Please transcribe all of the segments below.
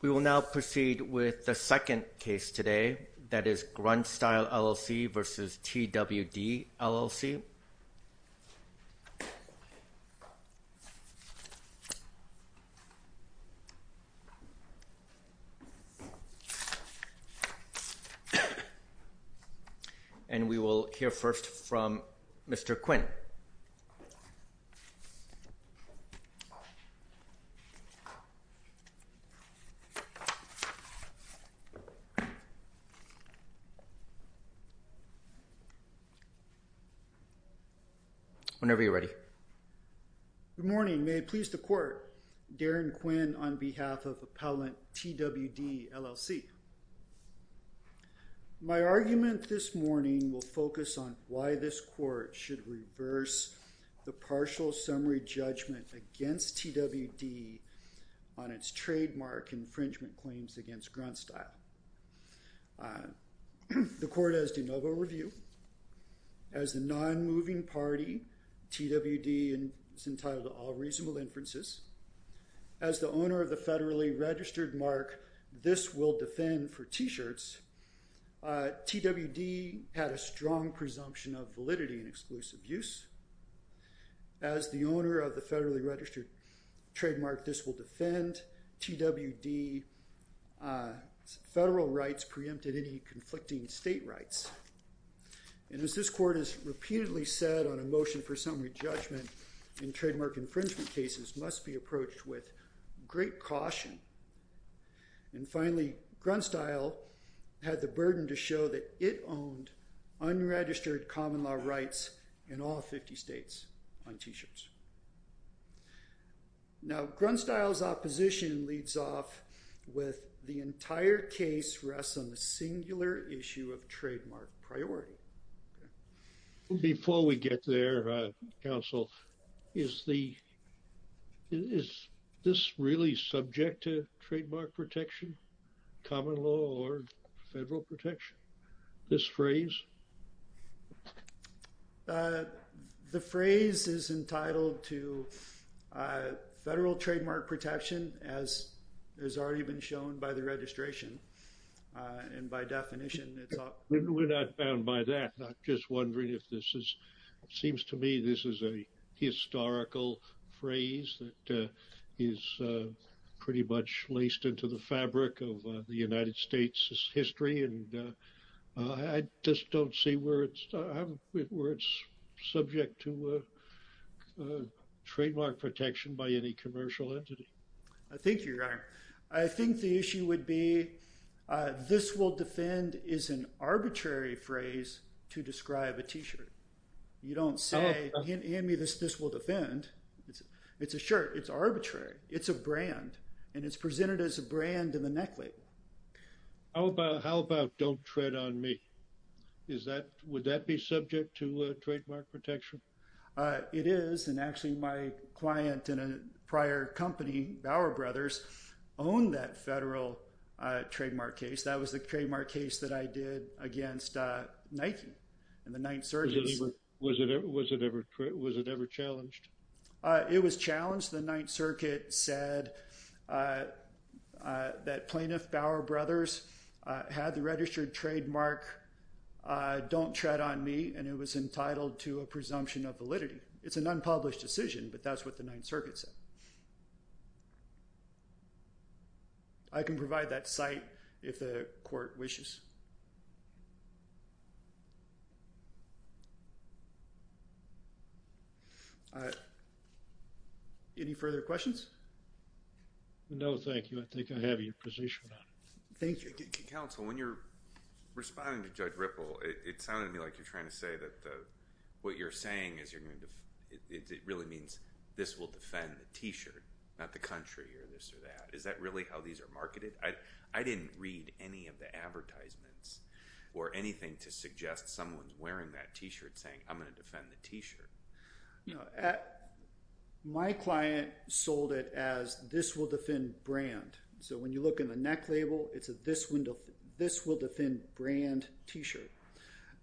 We will now proceed with the second case today, that is Grunt Style LLC v. TWD, LLC and we will hear first from Mr. Quinn. Whenever you're ready. Good morning, may it please the court, Darren Quinn on behalf of appellant TWD, LLC. My argument this morning will focus on why this court should reverse the partial summary judgment against TWD on its trademark infringement claims against Grunt Style. The court has de novo review as the non-moving party, TWD is entitled to all reasonable inferences. As the owner of the federally registered mark this will defend for t-shirts, TWD had a strong presumption of validity and exclusive use. As the owner of the federally registered trademark this will defend, TWD's federal rights preempted any conflicting state rights. And as this court has repeatedly said on a motion for summary judgment in trademark infringement cases must be approached with great caution. And finally Grunt Style had the burden to show that it owned unregistered common law rights in all 50 states on t-shirts. Now Grunt Style's opposition leads off with the entire case rests on the singular issue of trademark priority. Before we get there, counsel, is the is this really subject to trademark protection, common law or federal protection, this phrase? The phrase is entitled to federal trademark protection as has already been shown by the registration and by definition. We're not bound by that. I'm just wondering if this is seems to me this is a historical phrase that is pretty much laced into the fabric of the United States history and I just don't see where it's where it's subject to trademark protection by any commercial entity. I think you're right. I think the issue would be this will defend is an arbitrary phrase to describe a t-shirt. You don't say, hand me this will defend. It's a shirt. It's arbitrary. It's a brand and it's presented as a brand in the necklace. How about don't tread on me? Is that would that be subject to trademark protection? It is and actually my client in a prior company, Bauer Brothers, own that federal trademark case. That was the trademark case that I did against Nike and the Ninth Circuit. Was it ever challenged? It was challenged. The Ninth Circuit said that Plaintiff Bauer Brothers had the registered trademark, don't tread on me. And it was entitled to a presumption of validity. It's an unpublished decision, but that's what the Ninth Circuit said. I can provide that site if the court wishes. Any further questions? No, thank you. I think I have your position. Thank you. Counsel, when you're responding to Judge Ripple, it sounded to me like you're trying to say that what you're saying is it really means this will defend the t-shirt, not the country or this or that. Is that really how these are marketed? I didn't read any of the advertisements or anything to suggest someone's wearing that t-shirt saying, I'm going to defend the t-shirt. My client sold it as this will defend brand. So when you look in the neck label, it's a this will defend brand t-shirt.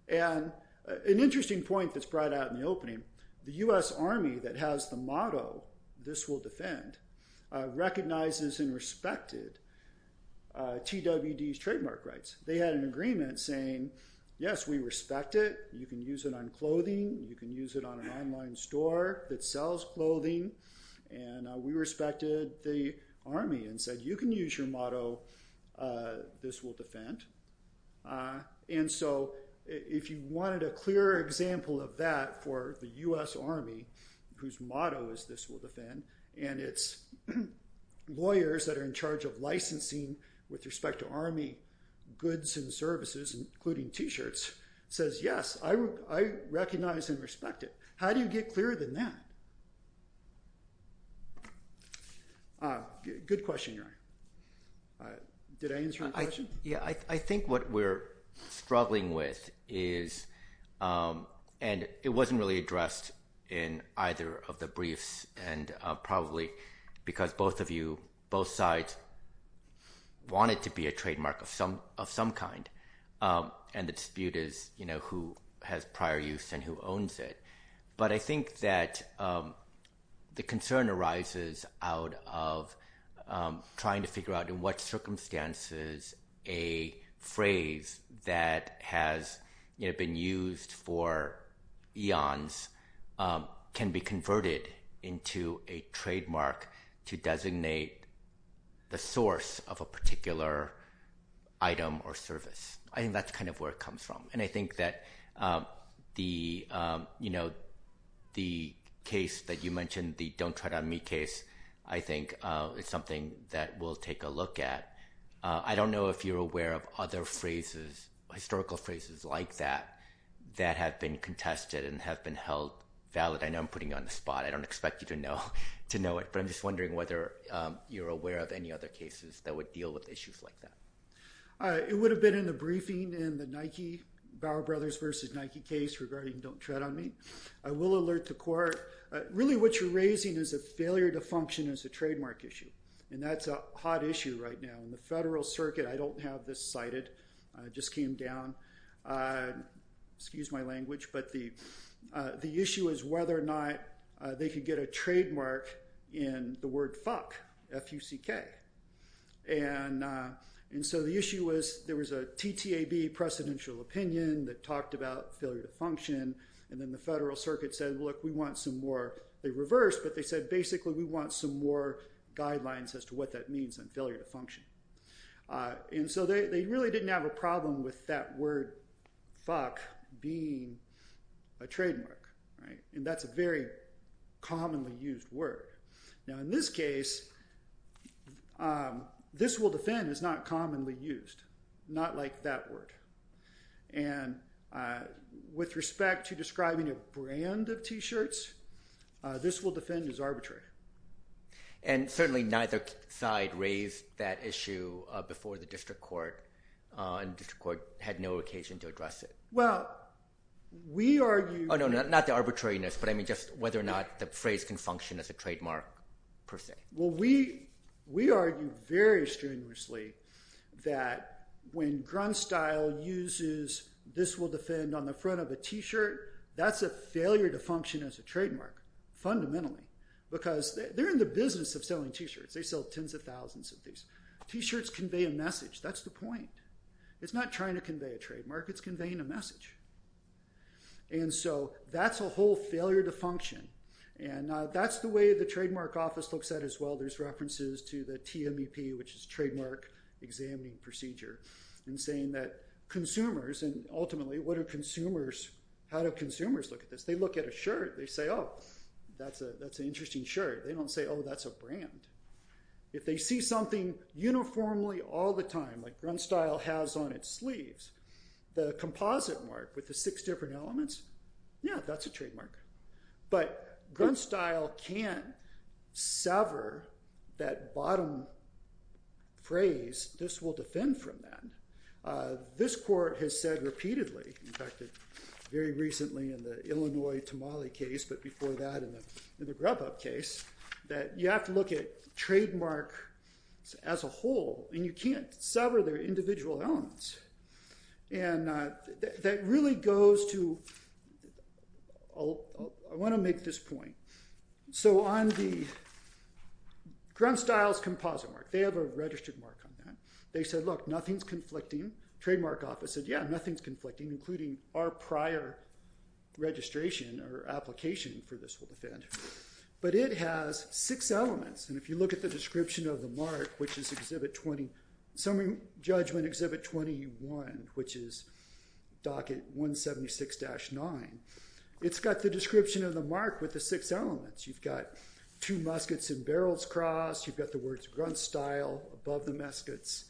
And an interesting point that's brought out in the opening, the U.S. Army that has the motto, this will defend, recognizes and respected TWD's trademark rights. They had an agreement saying, yes, we respect it. You can use it on clothing. You can use it on an online store that sells clothing. And we respected the Army and said, you can use your motto, this will defend. And so if you wanted a clear example of that for the U.S. Army, whose motto is this will defend, and it's lawyers that are in charge of licensing with respect to Army goods and services, including t-shirts, says, yes. I recognize and respect it. How do you get clearer than that? Good question. Did I answer your question? Yeah, I think what we're struggling with is, and it wasn't really addressed in either of the briefs and probably because both of you, both sides wanted to be a trademark of some kind. And the dispute is, you know, who has prior use and who owns it. But I think that the concern arises out of trying to figure out in what circumstances a phrase that has been used for eons can be converted into a trademark to designate the source of a particular item or service. I think that's kind of where it comes from. And I think that the, you know, the case that you mentioned, the don't try to meet case, I think it's something that we'll take a look at. I don't know if you're aware of other phrases, historical phrases like that, that have been contested and have been held valid. I know I'm putting you on the spot. I don't expect you to know to know it. But I'm just wondering whether you're aware of any other cases that would deal with issues like that. It would have been in the briefing in the Nike, Bauer Brothers versus Nike case regarding don't tread on me. I will alert the court. Really, what you're raising is a failure to function as a trademark issue. And that's a hot issue right now in the federal circuit. I don't have this cited. I just came down. Excuse my language. But the issue is whether or not they could get a trademark in the word fuck, F-U-C-K. And so the issue was there was a TTAB precedential opinion that talked about failure to function. And then the federal circuit said, look, we want some more. They reversed, but they said, basically, we want some more guidelines as to what that means on failure to function. And so they really didn't have a problem with that word fuck being a trademark. And that's a very commonly used word. Now, in this case, this will defend is not commonly used. Not like that word. And with respect to describing a brand of T-shirts, this will defend as arbitrary. And certainly neither side raised that issue before the district court, and the district court had no occasion to address it. Well, we argue. Oh, no, not the arbitrariness. But I mean, just whether or not the phrase can function as a trademark, per se. Well, we argue very strenuously that when Grunstyle uses this will defend on the front of a T-shirt, that's a failure to function as a trademark, fundamentally. Because they're in the business of selling T-shirts. They sell tens of thousands of these. T-shirts convey a message. That's the point. It's not trying to convey a trademark. It's conveying a message. And so that's a whole failure to function. And that's the way the Trademark Office looks at it as well. There's references to the TMEP, which is Trademark Examining Procedure, and saying that consumers, and ultimately, what do consumers, how do consumers look at this? They look at a shirt. They say, oh, that's an interesting shirt. They don't say, oh, that's a brand. If they see something uniformly all the time, like Grunstyle has on its sleeves, the composite mark with the six different elements, yeah, that's a trademark. But Grunstyle can't sever that bottom phrase, this will defend from that. This court has said repeatedly, in fact, very recently in the Illinois Tamale case, but before that in the Grubhub case, that you have to look at trademarks as a whole. And you can't sever their individual elements. And that really goes to, I want to make this point. So on the Grunstyle's composite mark, they have a registered mark on that. They said, look, nothing's conflicting. Trademark Office said, yeah, nothing's conflicting, including our prior registration or application for this will defend. But it has six elements. And if you look at the description of the mark, which is Exhibit 20, Summary Judgment Exhibit 21, which is Docket 176-9, it's got the description of the mark with the six elements. You've got two muskets and barrels crossed. You've got the words Grunstyle above the muskets,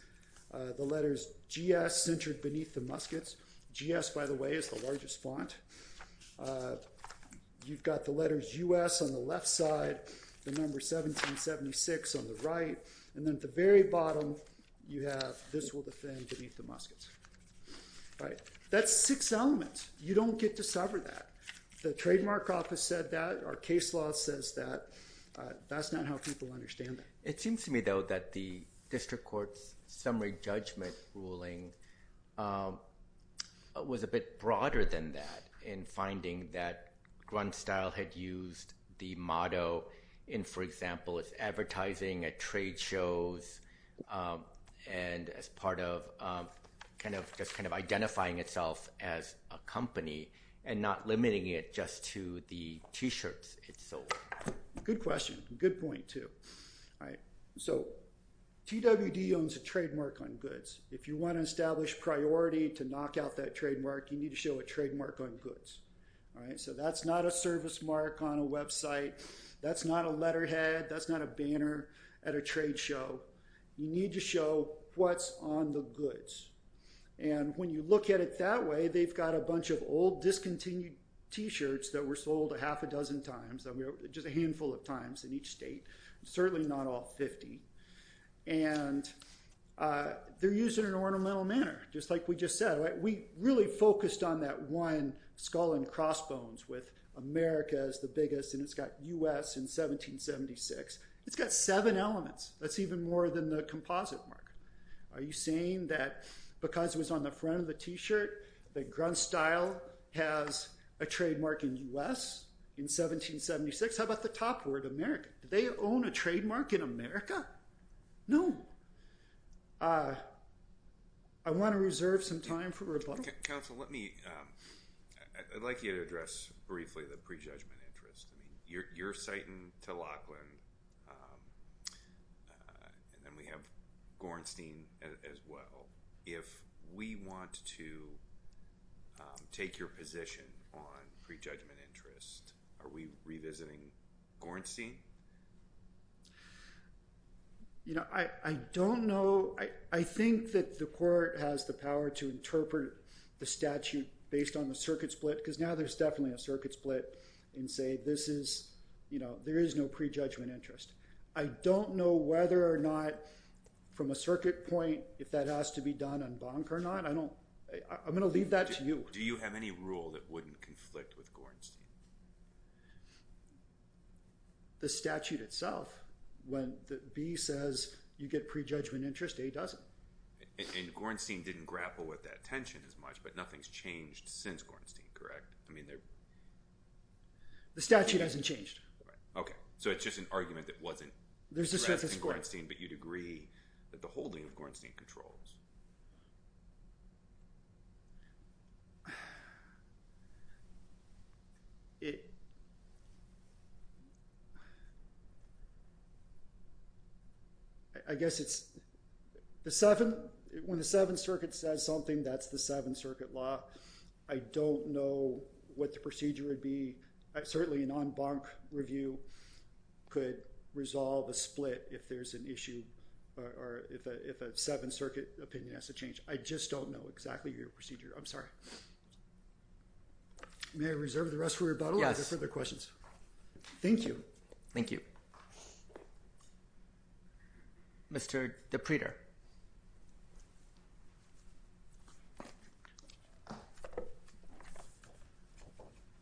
the letters GS centered beneath the muskets. GS, by the way, is the largest font. You've got the letters US on the left side, the number 1776 on the right. And then at the very bottom, you have this will defend beneath the muskets. Right. That's six elements. You don't get to sever that. The Trademark Office said that. Our case law says that. That's not how people understand it. It seems to me, though, that the district court's summary judgment ruling was a bit broader than that in finding that Grunstyle had used the motto in, for example, its advertising at trade shows. And as part of kind of just kind of identifying itself as a company and not limiting it just to the T-shirts it sold. Good question. Good point, too. All right. So TWD owns a trademark on goods. If you want to establish priority to knock out that trademark, you need to show a trademark on goods. All right. So that's not a service mark on a website. That's not a letterhead. That's not a banner at a trade show. You need to show what's on the goods. And when you look at it that way, they've got a bunch of old discontinued T-shirts that were sold a half a dozen times, just a handful of times in each state, certainly not all 50. And they're used in an ornamental manner, just like we just said. We really focused on that one skull and crossbones with America as the biggest. And it's got U.S. in 1776. It's got seven elements. That's even more than the composite mark. Are you saying that because it was on the front of the T-shirt that Grunstyle has a trademark in U.S. in 1776? How about the top word, America? Do they own a trademark in America? No. I want to reserve some time for rebuttal. Counsel, let me, I'd like you to address briefly the prejudgment interest. You're citing to Laughlin and then we have Gornstein as well. If we want to take your position on prejudgment interest, are we revisiting Gornstein? You know, I don't know. I think that the court has the power to interpret the statute based on the circuit split, because now there's definitely a circuit split. And say, this is, you know, there is no prejudgment interest. I don't know whether or not from a circuit point, if that has to be done en banc or not. I don't, I'm going to leave that to you. Do you have any rule that wouldn't conflict with Gornstein? The statute itself, when the B says you get prejudgment interest, A doesn't. And Gornstein didn't grapple with that tension as much, but nothing's changed since Gornstein, correct? I mean, the statute hasn't changed. So it's just an argument that wasn't addressed in Gornstein, but you'd agree that the holding of Gornstein controls. I guess it's the 7th, when the 7th Circuit says something, that's the 7th Circuit law. I don't know what the procedure would be. Certainly an en banc review could resolve a split if there's an issue or if a 7th Circuit opinion has to change. I just don't know exactly your procedure. I'm sorry. May I reserve the rest for rebuttal? Yes. Are there further questions? Thank you. Thank you. Mr. DePriter.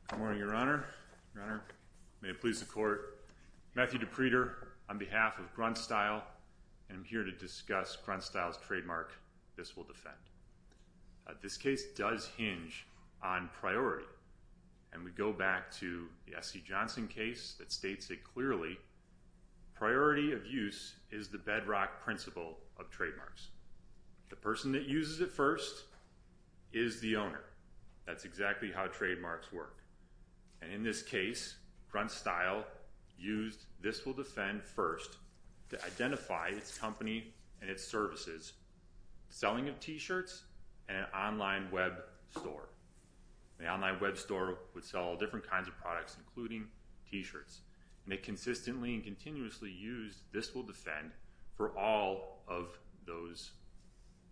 Good morning, Your Honor. Your Honor, may it please the Court. Matthew DePriter on behalf of Grunstyle, and I'm here to discuss Grunstyle's trademark, This Will Defend. This case does hinge on priority, and we go back to the SC Johnson case that states it clearly. Priority of use is the bedrock principle of trademarks. The person that uses it first is the owner. That's exactly how trademarks work. And in this case, Grunstyle used This Will Defend first to identify its company and its services, selling of t-shirts, and an online web store. An online web store would sell all different kinds of products, including t-shirts. And it consistently and continuously used This Will Defend for all of those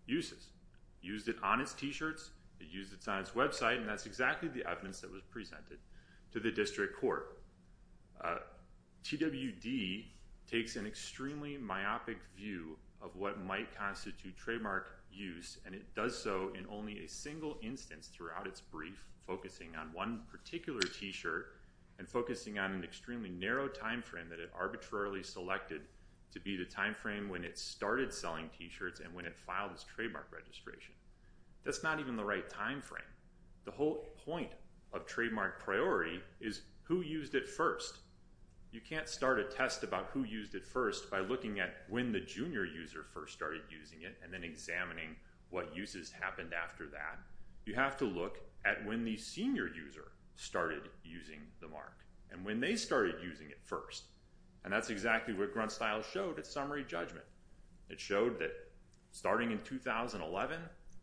uses. Used it on its t-shirts, it used it on its website, and that's exactly the evidence that was presented to the district court. TWD takes an extremely myopic view of what might constitute trademark use, and it does so in only a single instance throughout its brief, focusing on one particular t-shirt and focusing on an extremely narrow time frame that it arbitrarily selected to be the time frame when it started selling t-shirts and when it filed its trademark registration. That's not even the right time frame. The whole point of trademark priority is who used it first. You can't start a test about who used it first by looking at when the junior user first started using it and then examining what uses happened after that. You have to look at when the senior user started using the mark and when they started using it first, and that's exactly what GruntStyle showed at summary judgment. It showed that starting in 2011,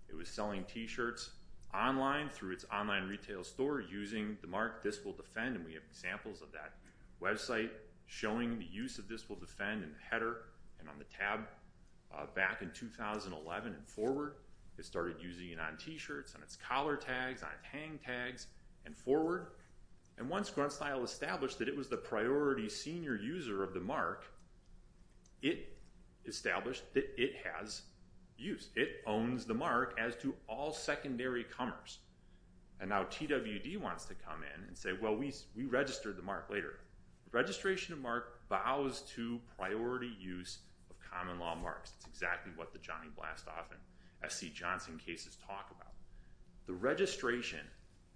it was selling t-shirts online through its online retail store using the mark This Will Defend, and we have examples of that website showing the use of This Will Defend in the header and on the tab. Back in 2011 and forward, it started using it on t-shirts, on its collar tags, on its hang tags, and forward, and once GruntStyle established that it was the priority senior user of the mark, it established that it has use. It owns the mark as do all secondary comers, and now TWD wants to come in and say, well, we registered the mark later. Registration of mark bows to priority use of common law marks. It's exactly what the Johnny Blastoff and SC Johnson cases talk about. The registration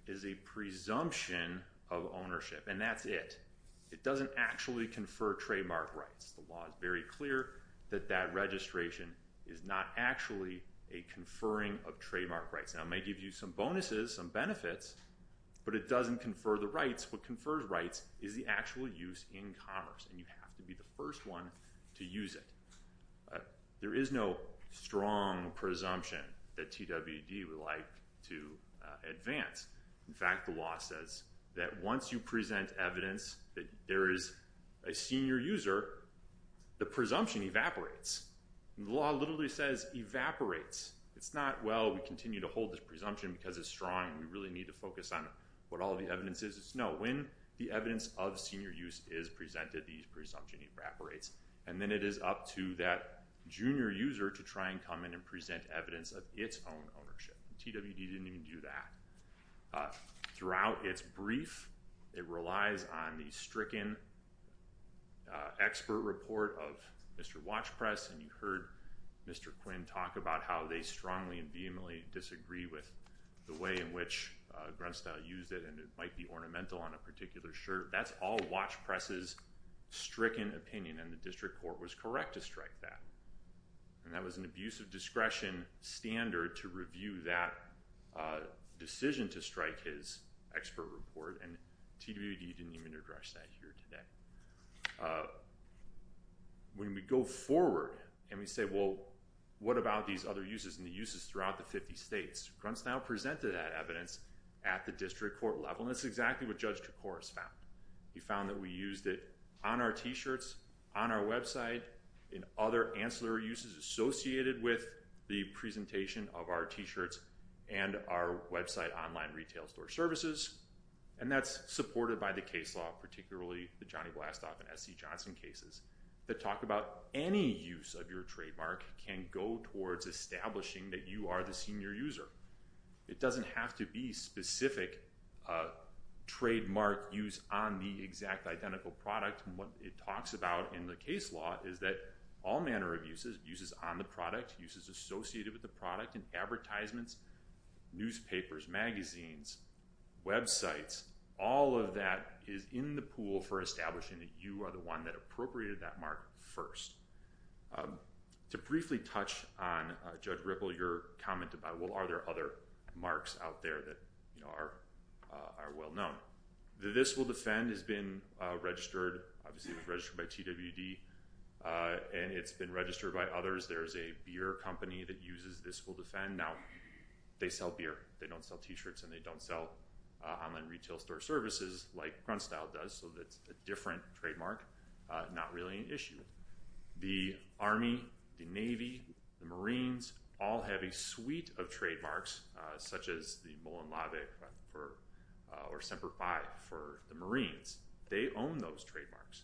is a presumption of ownership, and that's it. It doesn't actually confer trademark rights. The law is very clear that that registration is not actually a conferring of trademark rights. Now, it may give you some bonuses, some benefits, but it doesn't confer the rights. What confers rights is the actual use in commerce, and you have to be the first one to use it. There is no strong presumption that TWD would like to advance. In fact, the law says that once you present evidence that there is a senior user, the presumption evaporates. The law literally says evaporates. It's not, well, we continue to hold this presumption because it's strong, and we really need to focus on what all the evidence is. No, when the evidence of senior use is presented, the presumption evaporates, and then it is up to that junior user to try and come in and present evidence of its own ownership. TWD didn't even do that. Throughout its brief, it relies on the stricken expert report of Mr. Watchpress, and you heard Mr. Quinn talk about how they strongly and vehemently disagree with the way in which Grunstyle used it, and it might be ornamental on a particular shirt. That's all Watchpress's stricken opinion, and the district court was correct to strike that. And that was an abuse of discretion standard to review that decision to strike his expert report, and TWD didn't even address that here today. When we go forward and we say, well, what about these other uses and the uses throughout the 50 states, Grunstyle presented that evidence at the district court level, and that's exactly what Judge Koukouris found. He found that we used it on our t-shirts, on our website, in other ancillary uses associated with the presentation of our t-shirts and our website online retail store services, and that's supported by the case law, particularly the Johnny Blastoff and SC Johnson cases that talk about any use of your trademark can go towards establishing that you are the senior user. It doesn't have to be specific trademark use on the exact identical product, and what it talks about in the case law is that all manner of uses, uses on the product, uses associated with the product in advertisements, newspapers, magazines, websites, all of that is in the pool for establishing that you are the one that appropriated that mark first. To briefly touch on, Judge Ripple, your comment about, well, are there other marks out there that are well known? The This Will Defend has been registered, obviously it was registered by TWD, and it's been registered by others. There's a beer company that uses This Will Defend. Now, they sell beer, they don't sell t-shirts, and they don't sell online retail store services like Grunstyle does, so that's a different trademark, not really an issue. The Army, the Navy, the Marines all have a suite of trademarks, such as the Mullen Lave or Semper Fi for the Marines. They own those trademarks,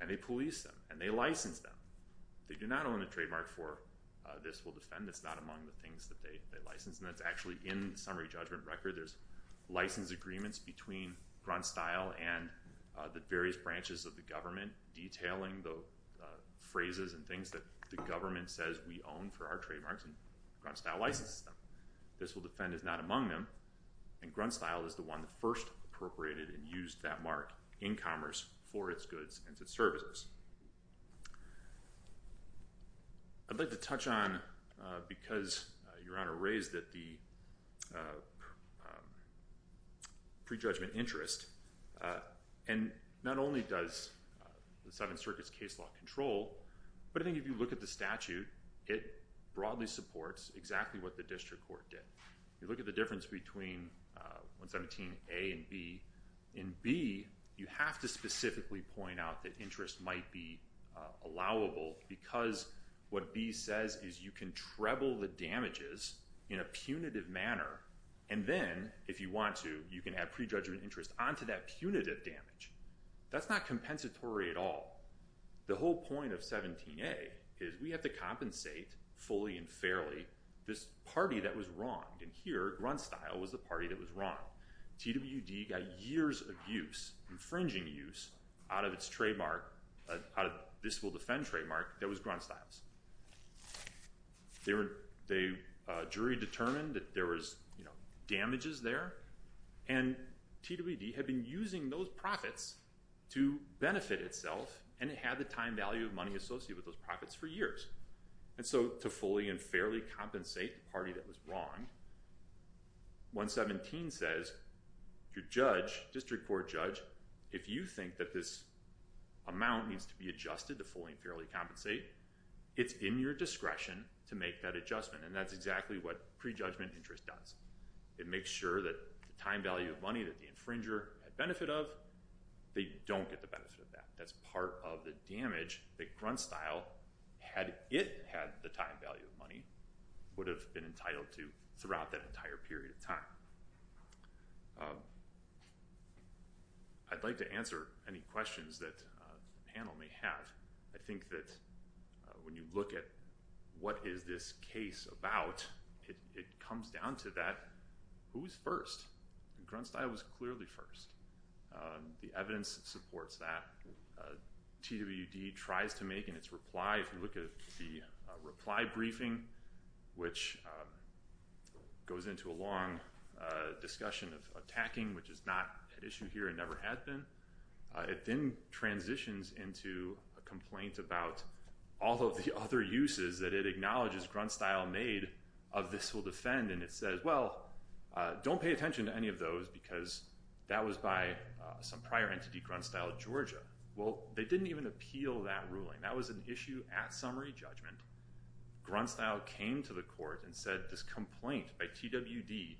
and they police them, and they license them. They do not own the trademark for This Will Defend, it's not among the things that they license, and that's actually in the summary judgment record. There's license agreements between Grunstyle and the various branches of the government detailing the phrases and things that the government says we own for our trademarks, and Grunstyle licenses them. This Will Defend is not among them, and Grunstyle is the one that first appropriated and used that mark in commerce for its goods and its services. I'd like to touch on, because Your Honor raised that the pre-judgment interest, and not only does the Seventh Circuit's case law control, but I think if you look at the statute, it broadly supports exactly what the district court did. You look at the difference between 117A and B. In B, you have to specifically point out that interest might be allowable, because what B says is you can treble the damages in a punitive manner, and then, if you want to, you can add pre-judgment interest onto that punitive damage. That's not compensatory at all. The whole point of 17A is we have to compensate, fully and fairly, this party that was wronged, and here, Grunstyle was the party that was wronged. TWD got years of use, infringing use, out of its trademark, out of this Will Defend trademark, that was Grunstyle's. They jury determined that there was, you know, damages there, and TWD had been using those profits to benefit itself, and it had the time value of money associated with those profits for years, and so, to fully and fairly compensate the party that was wronged, 117 says, your judge, district court judge, if you think that this amount needs to be adjusted to fully and fairly compensate, it's in your discretion to make that adjustment, and that's exactly what pre-judgment interest does. It makes sure that the time value of money that the infringer had benefit of, they don't get the benefit of that. That's part of the damage that Grunstyle, had it had the time value of money, would have been entitled to throughout that entire period of time. I'd like to answer any questions that the panel may have. I think that when you look at what is this case about, it comes down to that, who's first? Grunstyle was clearly first. The evidence supports that. TWD tries to make in its reply, if you look at the reply briefing, which goes into a long discussion of attacking, which is not an issue here and never had been. It then transitions into a complaint about all of the other uses that it acknowledges Grunstyle made of this will defend, and it says, well, don't pay attention to any of those because that was by some prior entity, Grunstyle Georgia. Well, they didn't even appeal that ruling. That was an issue at summary judgment. Grunstyle came to the court and said this complaint by TWD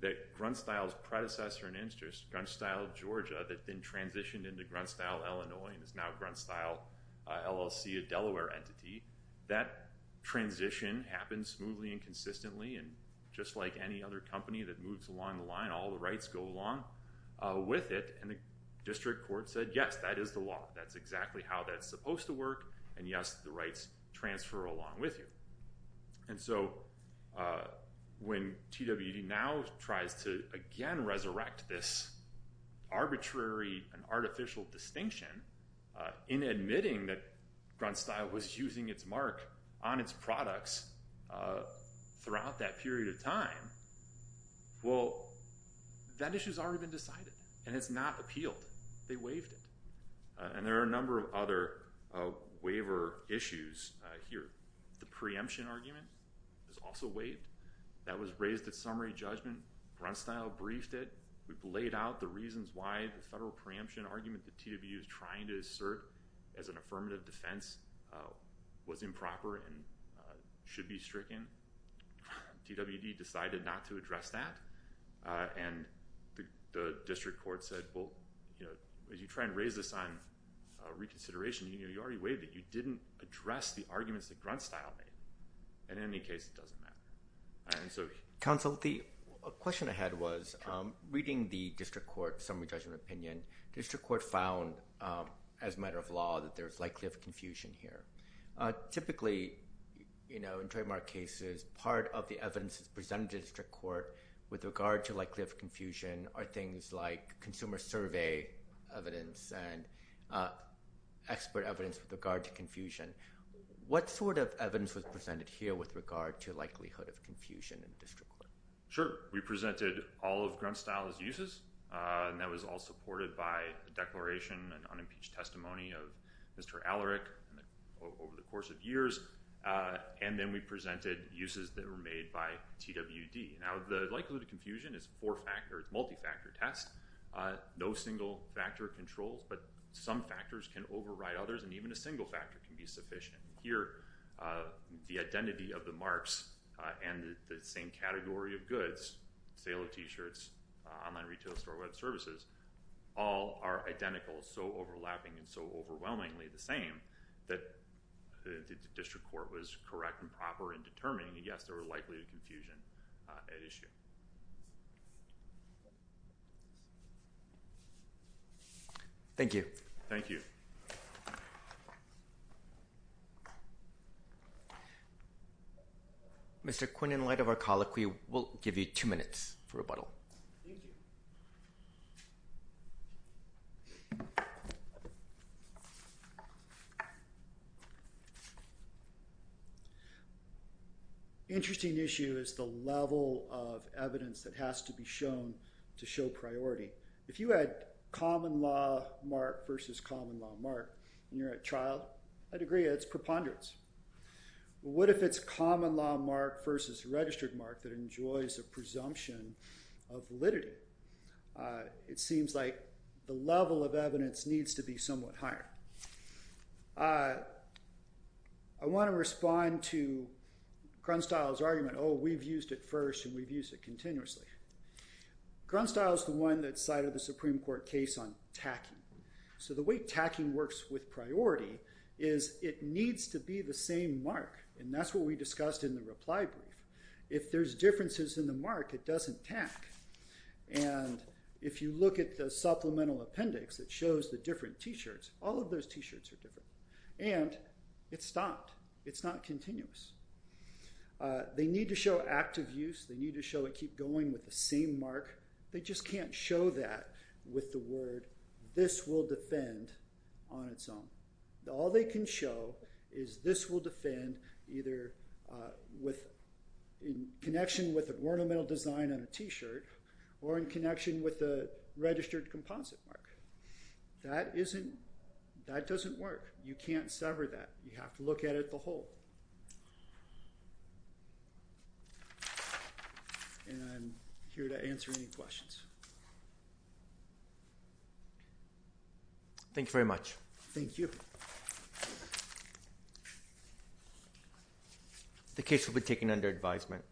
that Grunstyle's predecessor in interest, Grunstyle Georgia, that then transitioned into Grunstyle Illinois and is now Grunstyle LLC, a Delaware entity. That transition happened smoothly and consistently, and just like any other company that moves along the line, all the rights go along with it, and the district court said, yes, that is the law. That's exactly how that's supposed to work, and yes, the rights transfer along with you. And so when TWD now tries to again resurrect this arbitrary and artificial distinction in admitting that Grunstyle was using its mark on its products throughout that period of time, well, that issue's already been decided, and it's not appealed. They waived it. And there are a number of other waiver issues here. The preemption argument is also waived. That was raised at summary judgment. Grunstyle briefed it. We've laid out the reasons why the federal preemption argument that TWU is trying to assert as an affirmative defense was improper and should be stricken. TWD decided not to address that. And the district court said, well, as you try and raise this on reconsideration, you already waived it. You didn't address the arguments that Grunstyle made. And in any case, it doesn't matter. Counsel, the question I had was, reading the district court summary judgment opinion, the district court found as a matter of law that there's likely a confusion here. Typically, you know, in trademark cases, part of the evidence presented to the district court with regard to likelihood of confusion are things like consumer survey evidence and expert evidence with regard to confusion. What sort of evidence was presented here with regard to likelihood of confusion in the district court? Sure. We presented all of Grunstyle's uses, and that was all supported by the declaration and unimpeached testimony of Mr. Alaric over the course of years. And then we presented uses that were made by TWD. Now, the likelihood of confusion is four-factor, multi-factor test. No single factor controls, but some factors can override others, and even a single factor can be sufficient. Here, the identity of the marks and the same category of goods, sale of t-shirts, online retail store, web services, all are identical, so overlapping and so overwhelmingly the same that the district court was correct and proper in determining, yes, there were likelihood of confusion at issue. Thank you. Thank you. Mr. Quinn, in light of our colloquy, we'll give you two minutes for rebuttal. Thank you. Interesting issue is the level of evidence that has to be shown to show priority. If you had common law mark versus common law mark, and you're a child, I'd agree it's preponderance. What if it's common law mark versus registered mark that enjoys a presumption of validity? It seems like the level of evidence needs to be somewhat higher. I want to respond to Grunstyle's argument, oh, we've used it first, and we've used it continuously. Grunstyle's the one that cited the Supreme Court case on tacking. So the way tacking works with priority is it needs to be the same mark, and that's what we discussed in the reply brief. If there's differences in the mark, it doesn't tack. And if you look at the supplemental appendix, it shows the different t-shirts. All of those t-shirts are different. And it's stopped. It's not continuous. They need to show active use. They need to show it keep going with the same mark. They just can't show that with the word, this will defend on its own. All they can show is this will defend either with in connection with a ornamental design on a t-shirt or in connection with the registered composite mark. That doesn't work. You can't sever that. You have to look at it the whole. And I'm here to answer any questions. Thank you very much. Thank you. The case will be taken under advisement.